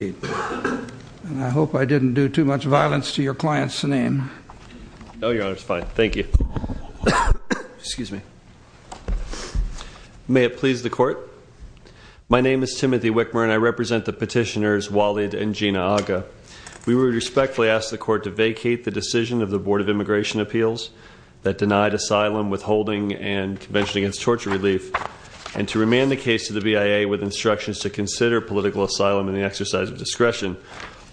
And I hope I didn't do too much violence to your client's name. No, Your Honor, it's fine. Thank you. Excuse me. May it please the Court. My name is Timothy Wickmer and I represent the petitioners Walled and Gina Agha. We would respectfully ask the Court to vacate the decision of the Board of Immigration Appeals that denied asylum, withholding, and Convention Against Torture relief, and to remand the case to the BIA with instructions to consider political asylum in the exercise of discretion,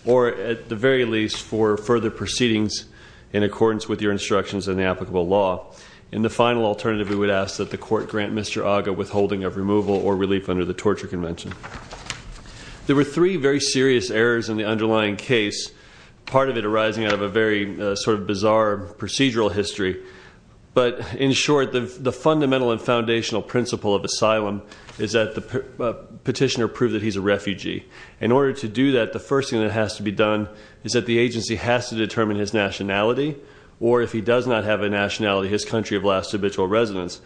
or, at the very least, for further proceedings in accordance with your instructions and the applicable law. In the final alternative, we would ask that the Court grant Mr. Agha withholding of removal or relief under the Torture Convention. There were three very serious errors in the underlying case, part of it arising out of a very sort of bizarre procedural history. But in short, the fundamental and foundational principle of asylum is that the petitioner prove that he's a refugee. In order to do that, the first thing that has to be done is that the agency has to determine his nationality, or if he does not have a nationality, his country of last habitual residence.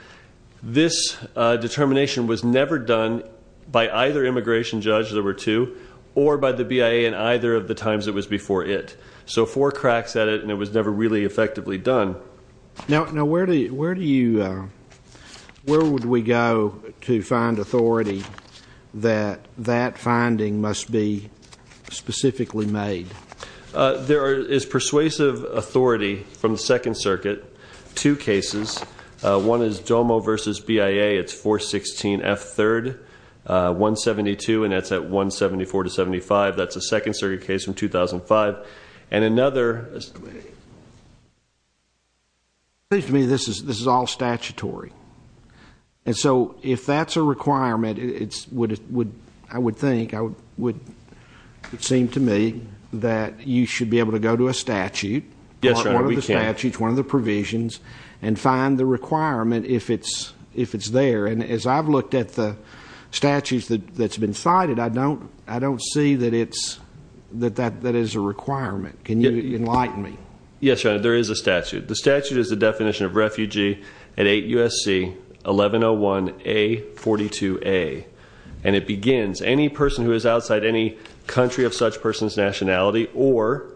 This determination was never done by either immigration judge, there were two, or by the BIA in either of the times it was before it. So four cracks at it, and it was never really effectively done. Now, where do you, where would we go to find authority that that finding must be specifically made? There is persuasive authority from the Second Circuit, two cases. One is DOMO versus BIA, it's 416 F. 3rd, 172, and that's at 174 to 75, that's a Second Circuit case from 2005. But, and another... It seems to me this is all statutory. And so if that's a requirement, I would think, it would seem to me that you should be able to go to a statute, one of the statutes, one of the provisions, and find the requirement if it's there. And as I've looked at the statutes that's been cited, I don't see that it's, that that is a requirement. Can you enlighten me? Yes, Your Honor, there is a statute. The statute is the definition of refugee at 8 U.S.C. 1101A. 42A. And it begins, any person who is outside any country of such person's nationality, or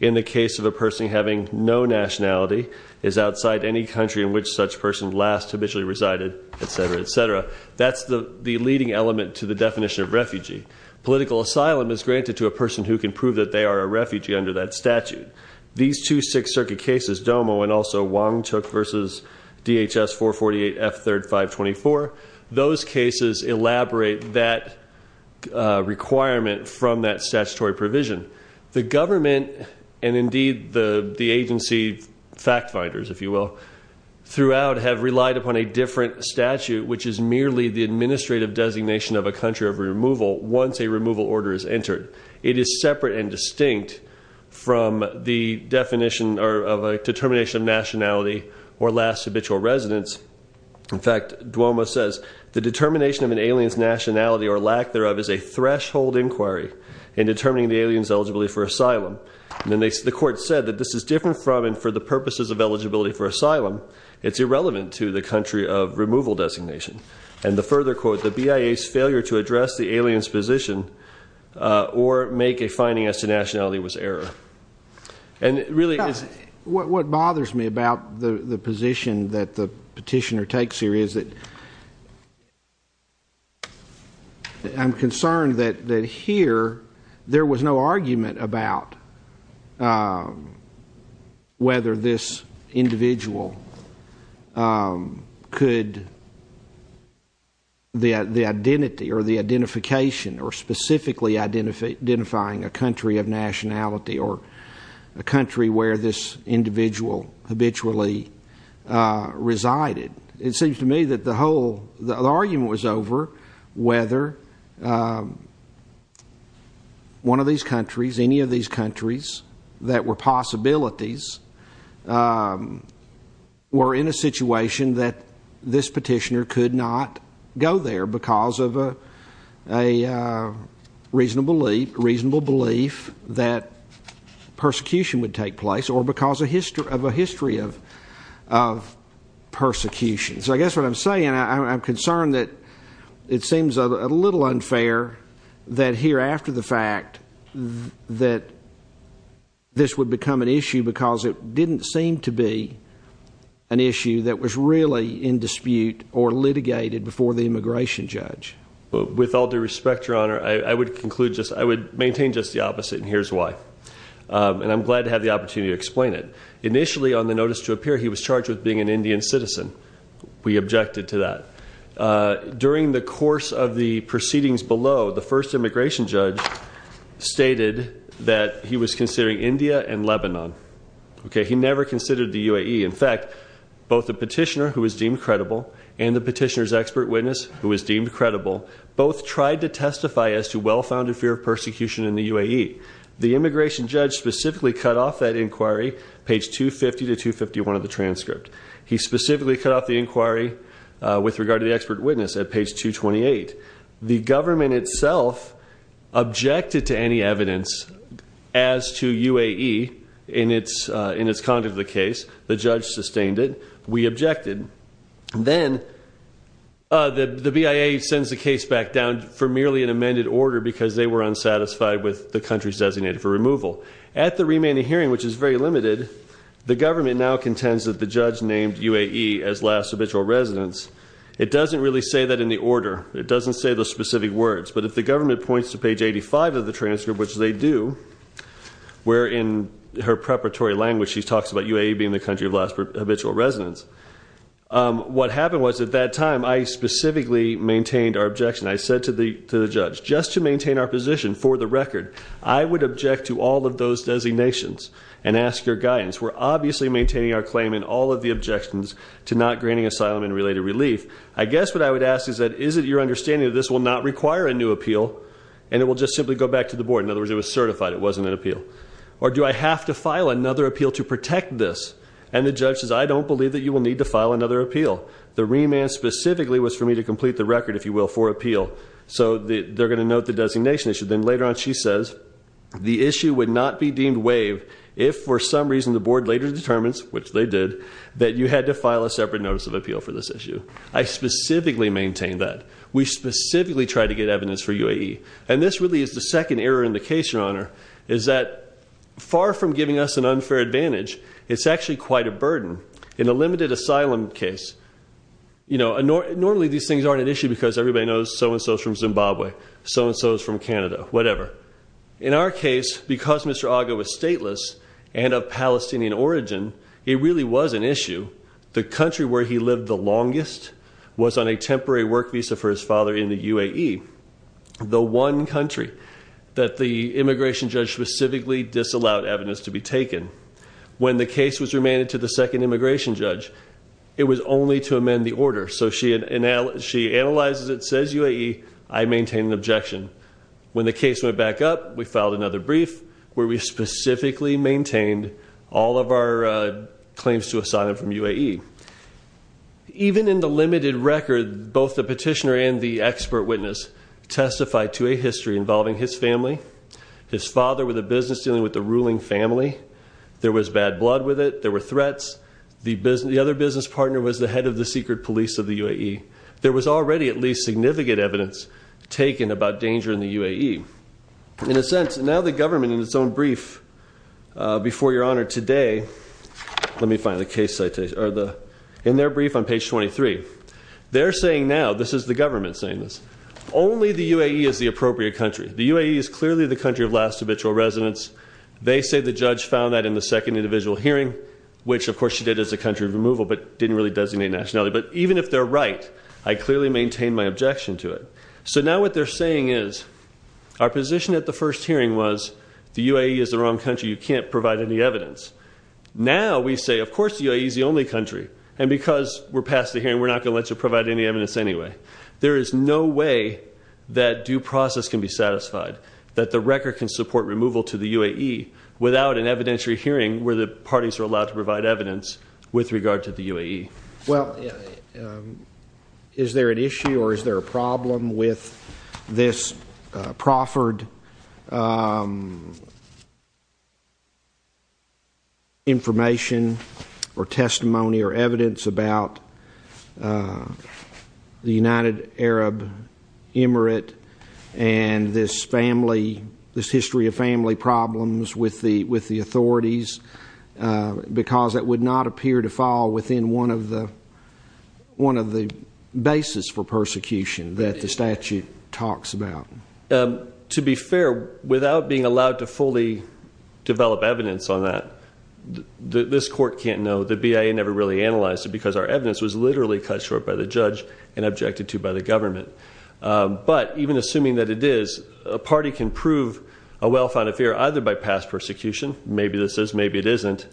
in the case of a person having no nationality, is outside any country in which such person last habitually resided, etc., etc. That's the leading element to the definition of refugee. Political asylum is granted to a person who can prove that they are a refugee under that statute. These two Sixth Circuit cases, DOMO and also Wong Chook versus DHS 448 F 3rd 524, those cases elaborate that requirement from that statutory provision. The government, and indeed the agency fact finders, if you will, throughout have relied upon a different statute, which is merely the administrative designation of a country of removal once a removal order is entered. It is separate and distinct from the definition of a determination of nationality or last habitual residence. In fact, DOMO says, the determination of an alien's nationality or lack thereof is a threshold inquiry in determining the alien's eligibility for asylum. And the court said that this is different from and for the purposes of eligibility for asylum. It's irrelevant to the country of removal designation. And the further quote, the BIA's failure to address the alien's position or make a finding as to nationality was error. And it really is. What bothers me about the position that the petitioner takes here is that I'm concerned that here there was no argument about whether this individual could, the identity or the identification or specifically identifying a country of nationality or a country where this individual habitually resided. It seems to me that the whole, the argument was over whether one of these countries, any of these countries that were possibilities were in a situation that this petitioner could not go there because of a reasonable belief that persecution would take place or because of a history of persecution. So I guess what I'm saying, I'm concerned that it seems a little unfair that here after the fact that this would become an issue because it didn't seem to be an issue that was really in dispute or litigated before the immigration judge. With all due respect, your honor, I would conclude just, I would maintain just the opposite and here's why. And I'm glad to have the opportunity to explain it. Initially on the notice to appear, he was charged with being an Indian citizen. We objected to that. During the course of the proceedings below, the first immigration judge stated that he was considering India and Lebanon. Okay, he never considered the UAE. In fact, both the petitioner who was deemed credible and the petitioner's expert witness who was deemed credible both tried to testify as to well-founded fear of persecution in the UAE. The immigration judge specifically cut off that inquiry, page 250 to 251 of the transcript. He specifically cut off the inquiry with regard to the expert witness at page 228. The government itself objected to any evidence as to UAE in its conduct of the case. The judge sustained it. We objected. Then the BIA sends the case back down for merely an amended order because they were unsatisfied with the country's designated for removal. At the remaining hearing, which is very limited, the government now contends that the judge named UAE as last habitual residence. It doesn't really say that in the order. It doesn't say the specific words. But if the government points to page 85 of the transcript, which they do, where in her preparatory language she talks about UAE being the country of last habitual residence, what happened was at that time I specifically maintained our objection. I said to the judge, just to maintain our position for the record, I would object to all of those designations and ask your guidance. We're obviously maintaining our claim in all of the objections to not granting asylum and related relief. I guess what I would ask is that is it your understanding that this will not require a new appeal and it will just simply go back to the board? In other words, it was certified. It wasn't an appeal. Or do I have to file another appeal to protect this? And the judge says, I don't believe that you will need to file another appeal. The remand specifically was for me to complete the record, if you will, for appeal. So they're going to note the designation issue. Then later on she says, the issue would not be deemed waived if for some reason the board later determines, which they did, that you had to file a separate notice of appeal for this issue. I specifically maintained that. We specifically tried to get evidence for UAE. And this really is the second error in the case, Your Honor, is that far from giving us an unfair advantage, it's actually quite a burden. In a limited asylum case, normally these things aren't an issue because everybody knows so-and-so is from Zimbabwe, so-and-so is from Canada, whatever. In our case, because Mr. Agha was stateless and of Palestinian origin, it really was an issue. The country where he lived the longest was on a temporary work visa for his father in the UAE. The one country that the immigration judge specifically disallowed evidence to be taken. When the case was remanded to the second immigration judge, it was only to amend the order. So she analyzes it, says UAE, I maintain an objection. When the case went back up, we filed another brief where we specifically maintained all of our claims to asylum from UAE. Even in the limited record, both the petitioner and the expert witness testified to a history involving his family, his father with a business dealing with a ruling family. There was bad blood with it. There were threats. The other business partner was the head of the secret police of the UAE. There was already at least significant evidence taken about danger in the UAE. In a sense, now the government in its own brief, before your honor today, let me find the case citation, in their brief on page 23, they're saying now, this is the government saying this, only the UAE is the appropriate country. The UAE is clearly the country of last habitual residence. They say the judge found that in the second individual hearing, which of course she did as a country of removal but didn't really designate nationally. But even if they're right, I clearly maintain my objection to it. So now what they're saying is our position at the first hearing was the UAE is the wrong country. You can't provide any evidence. Now we say, of course the UAE is the only country. And because we're past the hearing, we're not going to let you provide any evidence anyway. There is no way that due process can be satisfied, that the record can support removal to the UAE, without an evidentiary hearing where the parties are allowed to provide evidence with regard to the UAE. Well, is there an issue or is there a problem with this proffered information or testimony or evidence about the United Arab Emirate and this family, this history of family problems with the authorities? Because that would not appear to fall within one of the bases for persecution that the statute talks about. To be fair, without being allowed to fully develop evidence on that, this court can't know. The BIA never really analyzed it because our evidence was literally cut short by the judge and objected to by the government. But even assuming that it is, a party can prove a well-founded fear either by past persecution, maybe this is, maybe it isn't,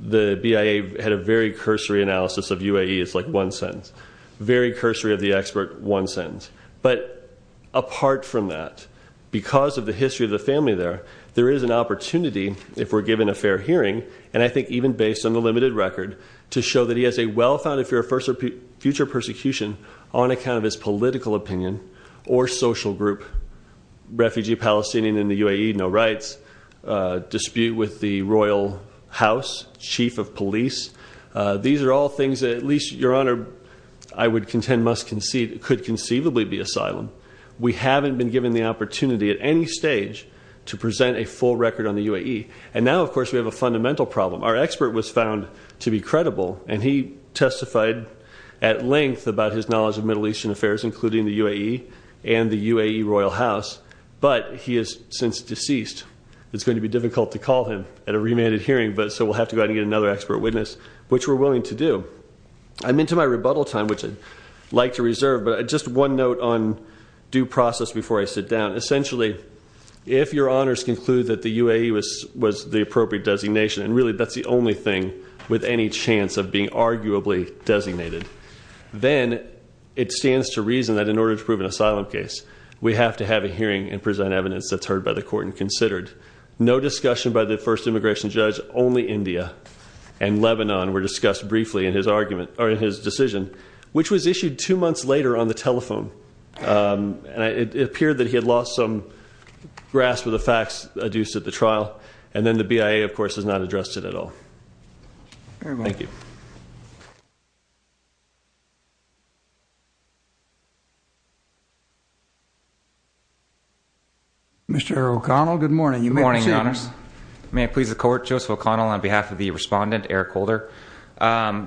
the BIA had a very cursory analysis of UAE, it's like one sentence. Very cursory of the expert, one sentence. But apart from that, because of the history of the family there, there is an opportunity if we're given a fair hearing, and I think even based on the limited record, to show that he has a well-founded fear of future persecution on account of his political opinion or social group. Refugee Palestinian in the UAE, no rights. Dispute with the royal house, chief of police. These are all things that at least, your honor, I would contend could conceivably be asylum. We haven't been given the opportunity at any stage to present a full record on the UAE. And now, of course, we have a fundamental problem. Our expert was found to be credible, and he testified at length about his knowledge of Middle Eastern affairs, including the UAE and the UAE royal house. But he is since deceased, it's going to be difficult to call him at a remanded hearing, so we'll have to go out and get another expert witness, which we're willing to do. I'm into my rebuttal time, which I'd like to reserve, but just one note on due process before I sit down. Essentially, if your honors conclude that the UAE was the appropriate designation, and really that's the only thing with any chance of being arguably designated, then it stands to reason that in order to prove an asylum case, we have to have a hearing and present evidence that's heard by the court and considered. No discussion by the first immigration judge, only India and Lebanon were discussed briefly in his argument, or in his decision, which was issued two months later on the telephone. It appeared that he had lost some grasp of the facts adduced at the trial, and then the BIA, of course, has not addressed it at all. Thank you. Mr. O'Connell, good morning. Good morning, your honors. May I please the court? Joseph O'Connell on behalf of the respondent, Eric Holder.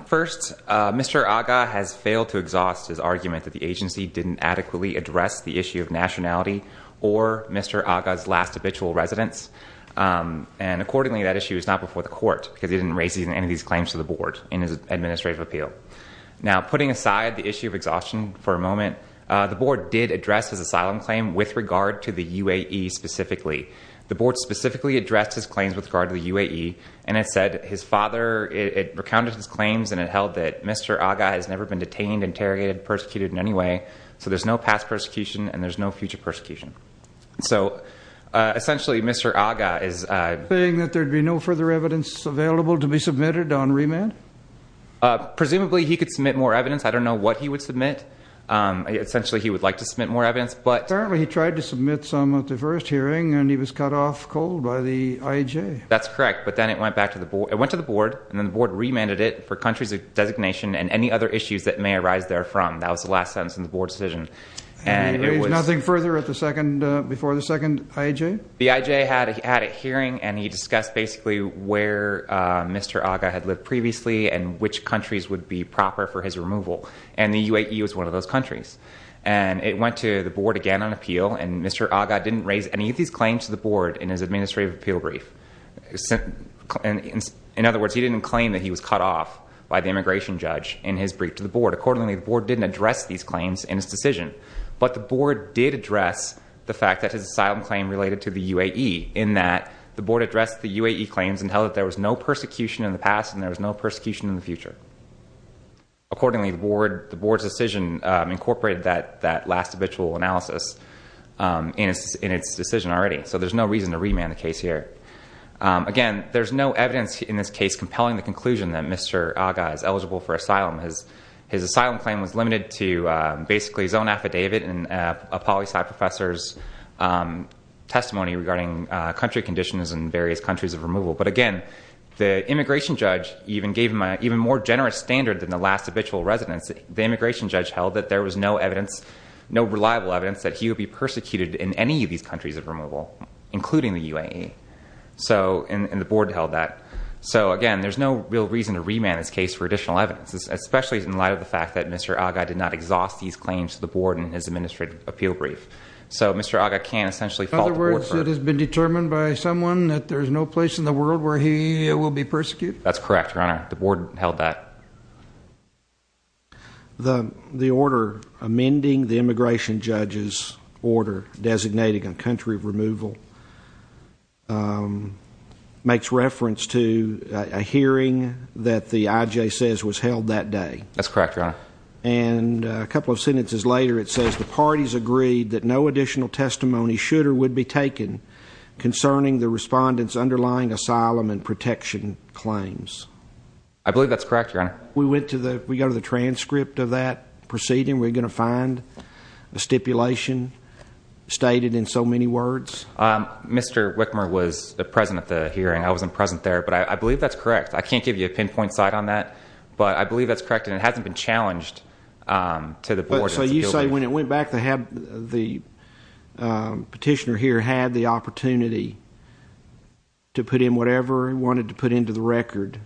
First, Mr. Agha has failed to exhaust his argument that the agency didn't adequately address the issue of nationality or Mr. Agha's last habitual residence. And accordingly, that issue is not before the court because he didn't raise any of these claims to the board in his administrative appeal. Now, putting aside the issue of exhaustion for a moment, the board did address his asylum claim with regard to the UAE specifically. The board specifically addressed his claims with regard to the UAE, and it said his father, it recounted his claims and it held that Mr. Agha has never been detained, interrogated, persecuted in any way, so there's no past persecution and there's no future persecution. So, essentially, Mr. Agha is... Saying that there'd be no further evidence available to be submitted on remand? Presumably, he could submit more evidence. I don't know what he would submit. Essentially, he would like to submit more evidence, but... Apparently, he tried to submit some at the first hearing, and he was cut off cold by the IAJ. That's correct, but then it went back to the board. It went to the board, and then the board remanded it for countries of designation and any other issues that may arise therefrom. That was the last sentence in the board decision. Nothing further before the second IAJ? The IAJ had a hearing, and he discussed basically where Mr. Agha had lived previously and which countries would be proper for his removal, and the UAE was one of those countries. It went to the board again on appeal, and Mr. Agha didn't raise any of these claims to the board in his administrative appeal brief. In other words, he didn't claim that he was cut off by the immigration judge in his brief to the board. Accordingly, the board didn't address these claims in his decision, but the board did address the fact that his asylum claim related to the UAE in that the board addressed the UAE claims and held that there was no persecution in the past and there was no persecution in the future. Accordingly, the board's decision incorporated that last habitual analysis in its decision already, so there's no reason to remand the case here. Again, there's no evidence in this case compelling the conclusion that Mr. Agha is eligible for asylum. His asylum claim was limited to basically his own affidavit and a poli-sci professor's testimony regarding country conditions in various countries of removal, but again, the immigration judge even gave him an even more generous standard than the last habitual residence. The immigration judge held that there was no reliable evidence that he would be persecuted in any of these countries of removal, including the UAE, and the board held that. Again, there's no real reason to remand this case for additional evidence. Especially in light of the fact that Mr. Agha did not exhaust these claims to the board in his administrative appeal brief. So Mr. Agha can't essentially fault the board for it. In other words, it has been determined by someone that there's no place in the world where he will be persecuted? That's correct, Your Honor. The board held that. The order amending the immigration judge's order designating a country of removal makes reference to a hearing that the IJ says was held that day. That's correct, Your Honor. And a couple of sentences later it says, the parties agreed that no additional testimony should or would be taken concerning the respondents' underlying asylum and protection claims. I believe that's correct, Your Honor. We go to the transcript of that proceeding, we're going to find a stipulation stated in so many words? Mr. Wickmer was present at the hearing. I wasn't present there. But I believe that's correct. I can't give you a pinpoint site on that. But I believe that's correct and it hasn't been challenged to the board. So you say when it went back, the petitioner here had the opportunity to put in whatever he wanted to put into the record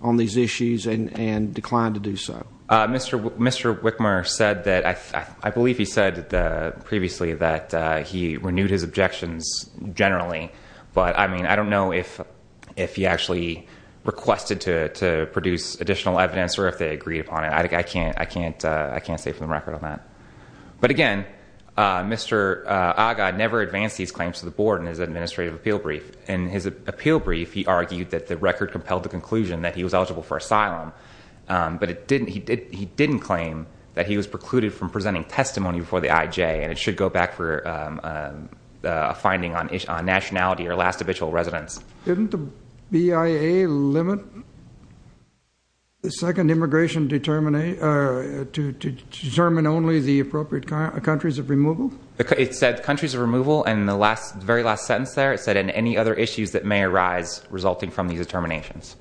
on these issues and declined to do so? Mr. Wickmer said that, I believe he said previously that he renewed his objections generally. But I mean, I don't know if he actually requested to produce additional evidence or if they agreed upon it. I can't say from the record on that. But again, Mr. Aga never advanced these claims to the board in his administrative appeal brief. In his appeal brief, he argued that the record compelled the conclusion that he was eligible for asylum. But he didn't claim that he was precluded from presenting testimony before the IJ. And it should go back for a finding on nationality or last habitual residence. Didn't the BIA limit the second immigration to determine only the appropriate countries of removal? It said countries of removal in the very last sentence there. It said any other issues that may arise resulting from these determinations.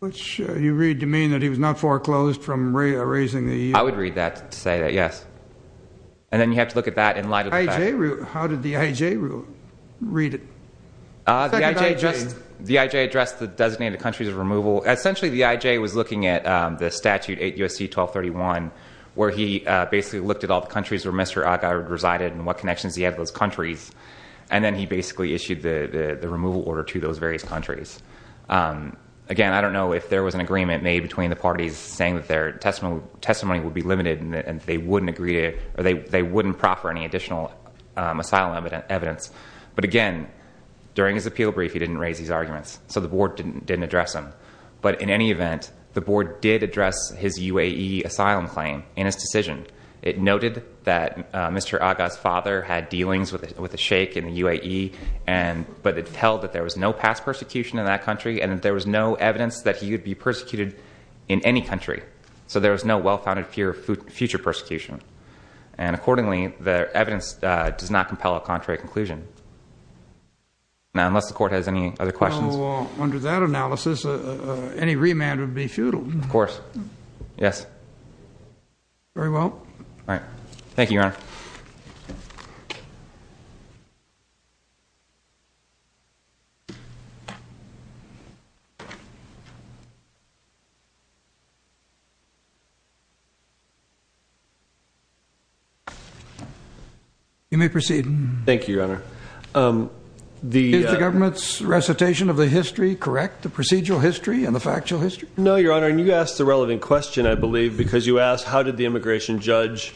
Which you read to mean that he was not foreclosed from raising the EU? I would read that to say that, yes. And then you have to look at that in light of the fact. How did the IJ read it? The IJ addressed the designated countries of removal. Essentially, the IJ was looking at the statute 8 U.S.C. 1231, where he basically looked at all the countries where Mr. Aga resided and what connections he had to those countries. And then he basically issued the removal order to those various countries. Again, I don't know if there was an agreement made between the parties saying that their testimony would be limited and they wouldn't proffer any additional asylum evidence. But again, during his appeal brief, he didn't raise these arguments. So the board didn't address them. But in any event, the board did address his UAE asylum claim in his decision. It noted that Mr. Aga's father had dealings with a sheik in the UAE, but it held that there was no past persecution in that country and that there was no evidence that he would be persecuted in any country. So there was no well-founded fear of future persecution. And accordingly, the evidence does not compel a contrary conclusion. Now, unless the Court has any other questions. So under that analysis, any remand would be futile. Of course. Yes. Very well. All right. Thank you, Your Honor. You may proceed. Thank you, Your Honor. Is the government's recitation of the history correct, the procedural history and the factual history? No, Your Honor. And you asked the relevant question, I believe, because you asked how did the immigration judge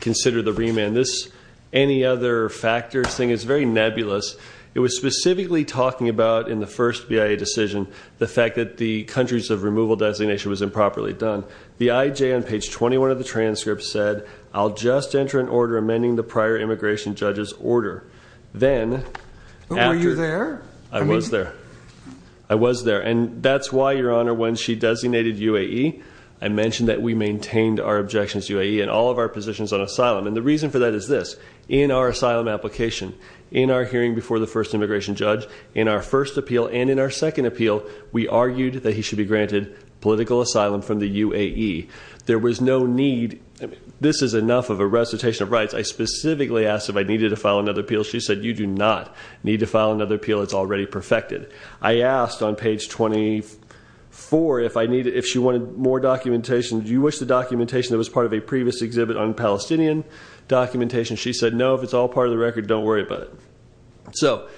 consider the remand. This any other factors thing is very nebulous. It was specifically talking about in the first BIA decision the fact that the countries of removal designation was improperly done. The IJ on page 21 of the transcript said, I'll just enter an order amending the prior immigration judge's order. Then after. Were you there? I was there. I was there. And that's why, Your Honor, when she designated UAE, I mentioned that we maintained our objections to UAE and all of our positions on asylum. And the reason for that is this. In our asylum application, in our hearing before the first immigration judge, in our first appeal, and in our second appeal, we argued that he should be granted political asylum from the UAE. There was no need. This is enough of a recitation of rights. I specifically asked if I needed to file another appeal. She said, you do not need to file another appeal. It's already perfected. I asked on page 24 if she wanted more documentation. Do you wish the documentation that was part of a previous exhibit on Palestinian documentation? She said, no, if it's all part of the record, don't worry about it. So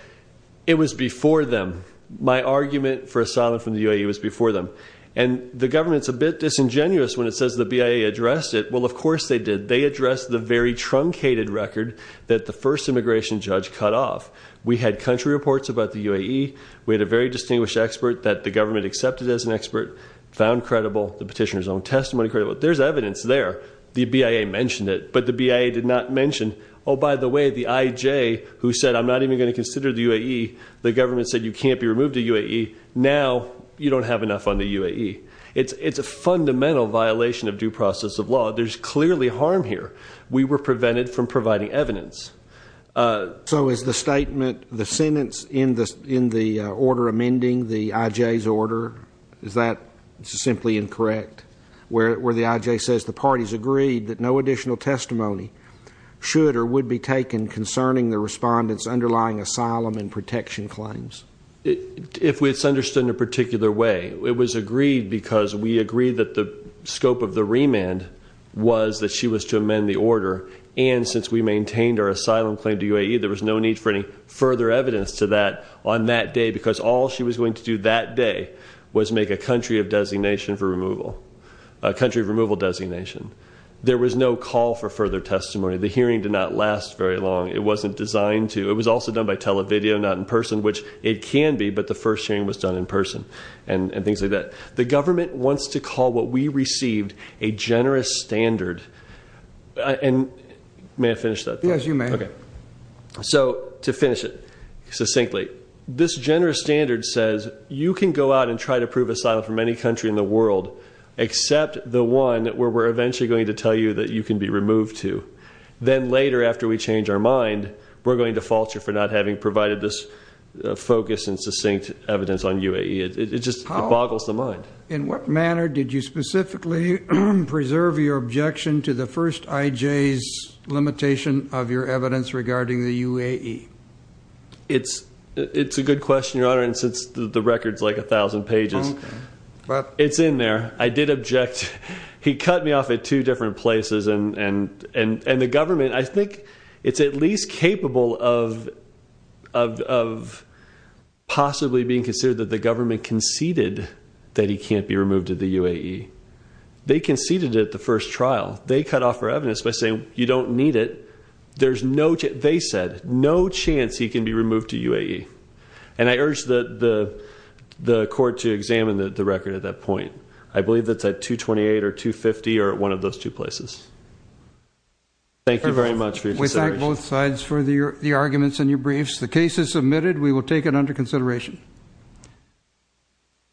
it was before them. My argument for asylum from the UAE was before them. And the government's a bit disingenuous when it says the BIA addressed it. Well, of course they did. They addressed the very truncated record that the first immigration judge cut off. We had country reports about the UAE. We had a very distinguished expert that the government accepted as an expert, found credible, the petitioner's own testimony credible. There's evidence there. The BIA mentioned it, but the BIA did not mention, oh, by the way, the IJ who said I'm not even going to consider the UAE, the government said you can't be removed to UAE. Now you don't have enough on the UAE. It's a fundamental violation of due process of law. There's clearly harm here. We were prevented from providing evidence. So is the statement, the sentence in the order amending the IJ's order, is that simply incorrect where the IJ says the parties agreed that no additional testimony should or would be taken concerning the respondent's underlying asylum and protection claims? If it's understood in a particular way, it was agreed because we agreed that the scope of the remand was that she was to amend the order, and since we maintained our asylum claim to UAE, there was no need for any further evidence to that on that day, because all she was going to do that day was make a country of designation for removal, a country of removal designation. There was no call for further testimony. The hearing did not last very long. It wasn't designed to. It was also done by television, not in person, which it can be, but the first hearing was done in person and things like that. The government wants to call what we received a generous standard. May I finish that? Yes, you may. So to finish it succinctly, this generous standard says you can go out and try to prove asylum from any country in the world except the one where we're eventually going to tell you that you can be removed to. Then later, after we change our mind, we're going to falter for not having provided this focus and succinct evidence on UAE. It just boggles the mind. In what manner did you specifically preserve your objection to the first IJ's limitation of your evidence regarding the UAE? It's a good question, Your Honor, and since the record's like a thousand pages, it's in there. I did object. He cut me off at two different places, and the government, I think it's at least capable of possibly being considered that the government conceded that he can't be removed to the UAE. They conceded it at the first trial. They cut off our evidence by saying you don't need it. They said no chance he can be removed to UAE, and I urge the court to examine the record at that point. I believe it's at 228 or 250 or one of those two places. Thank you very much for your consideration. We thank both sides for the arguments in your briefs. The case is submitted. We will take it under consideration.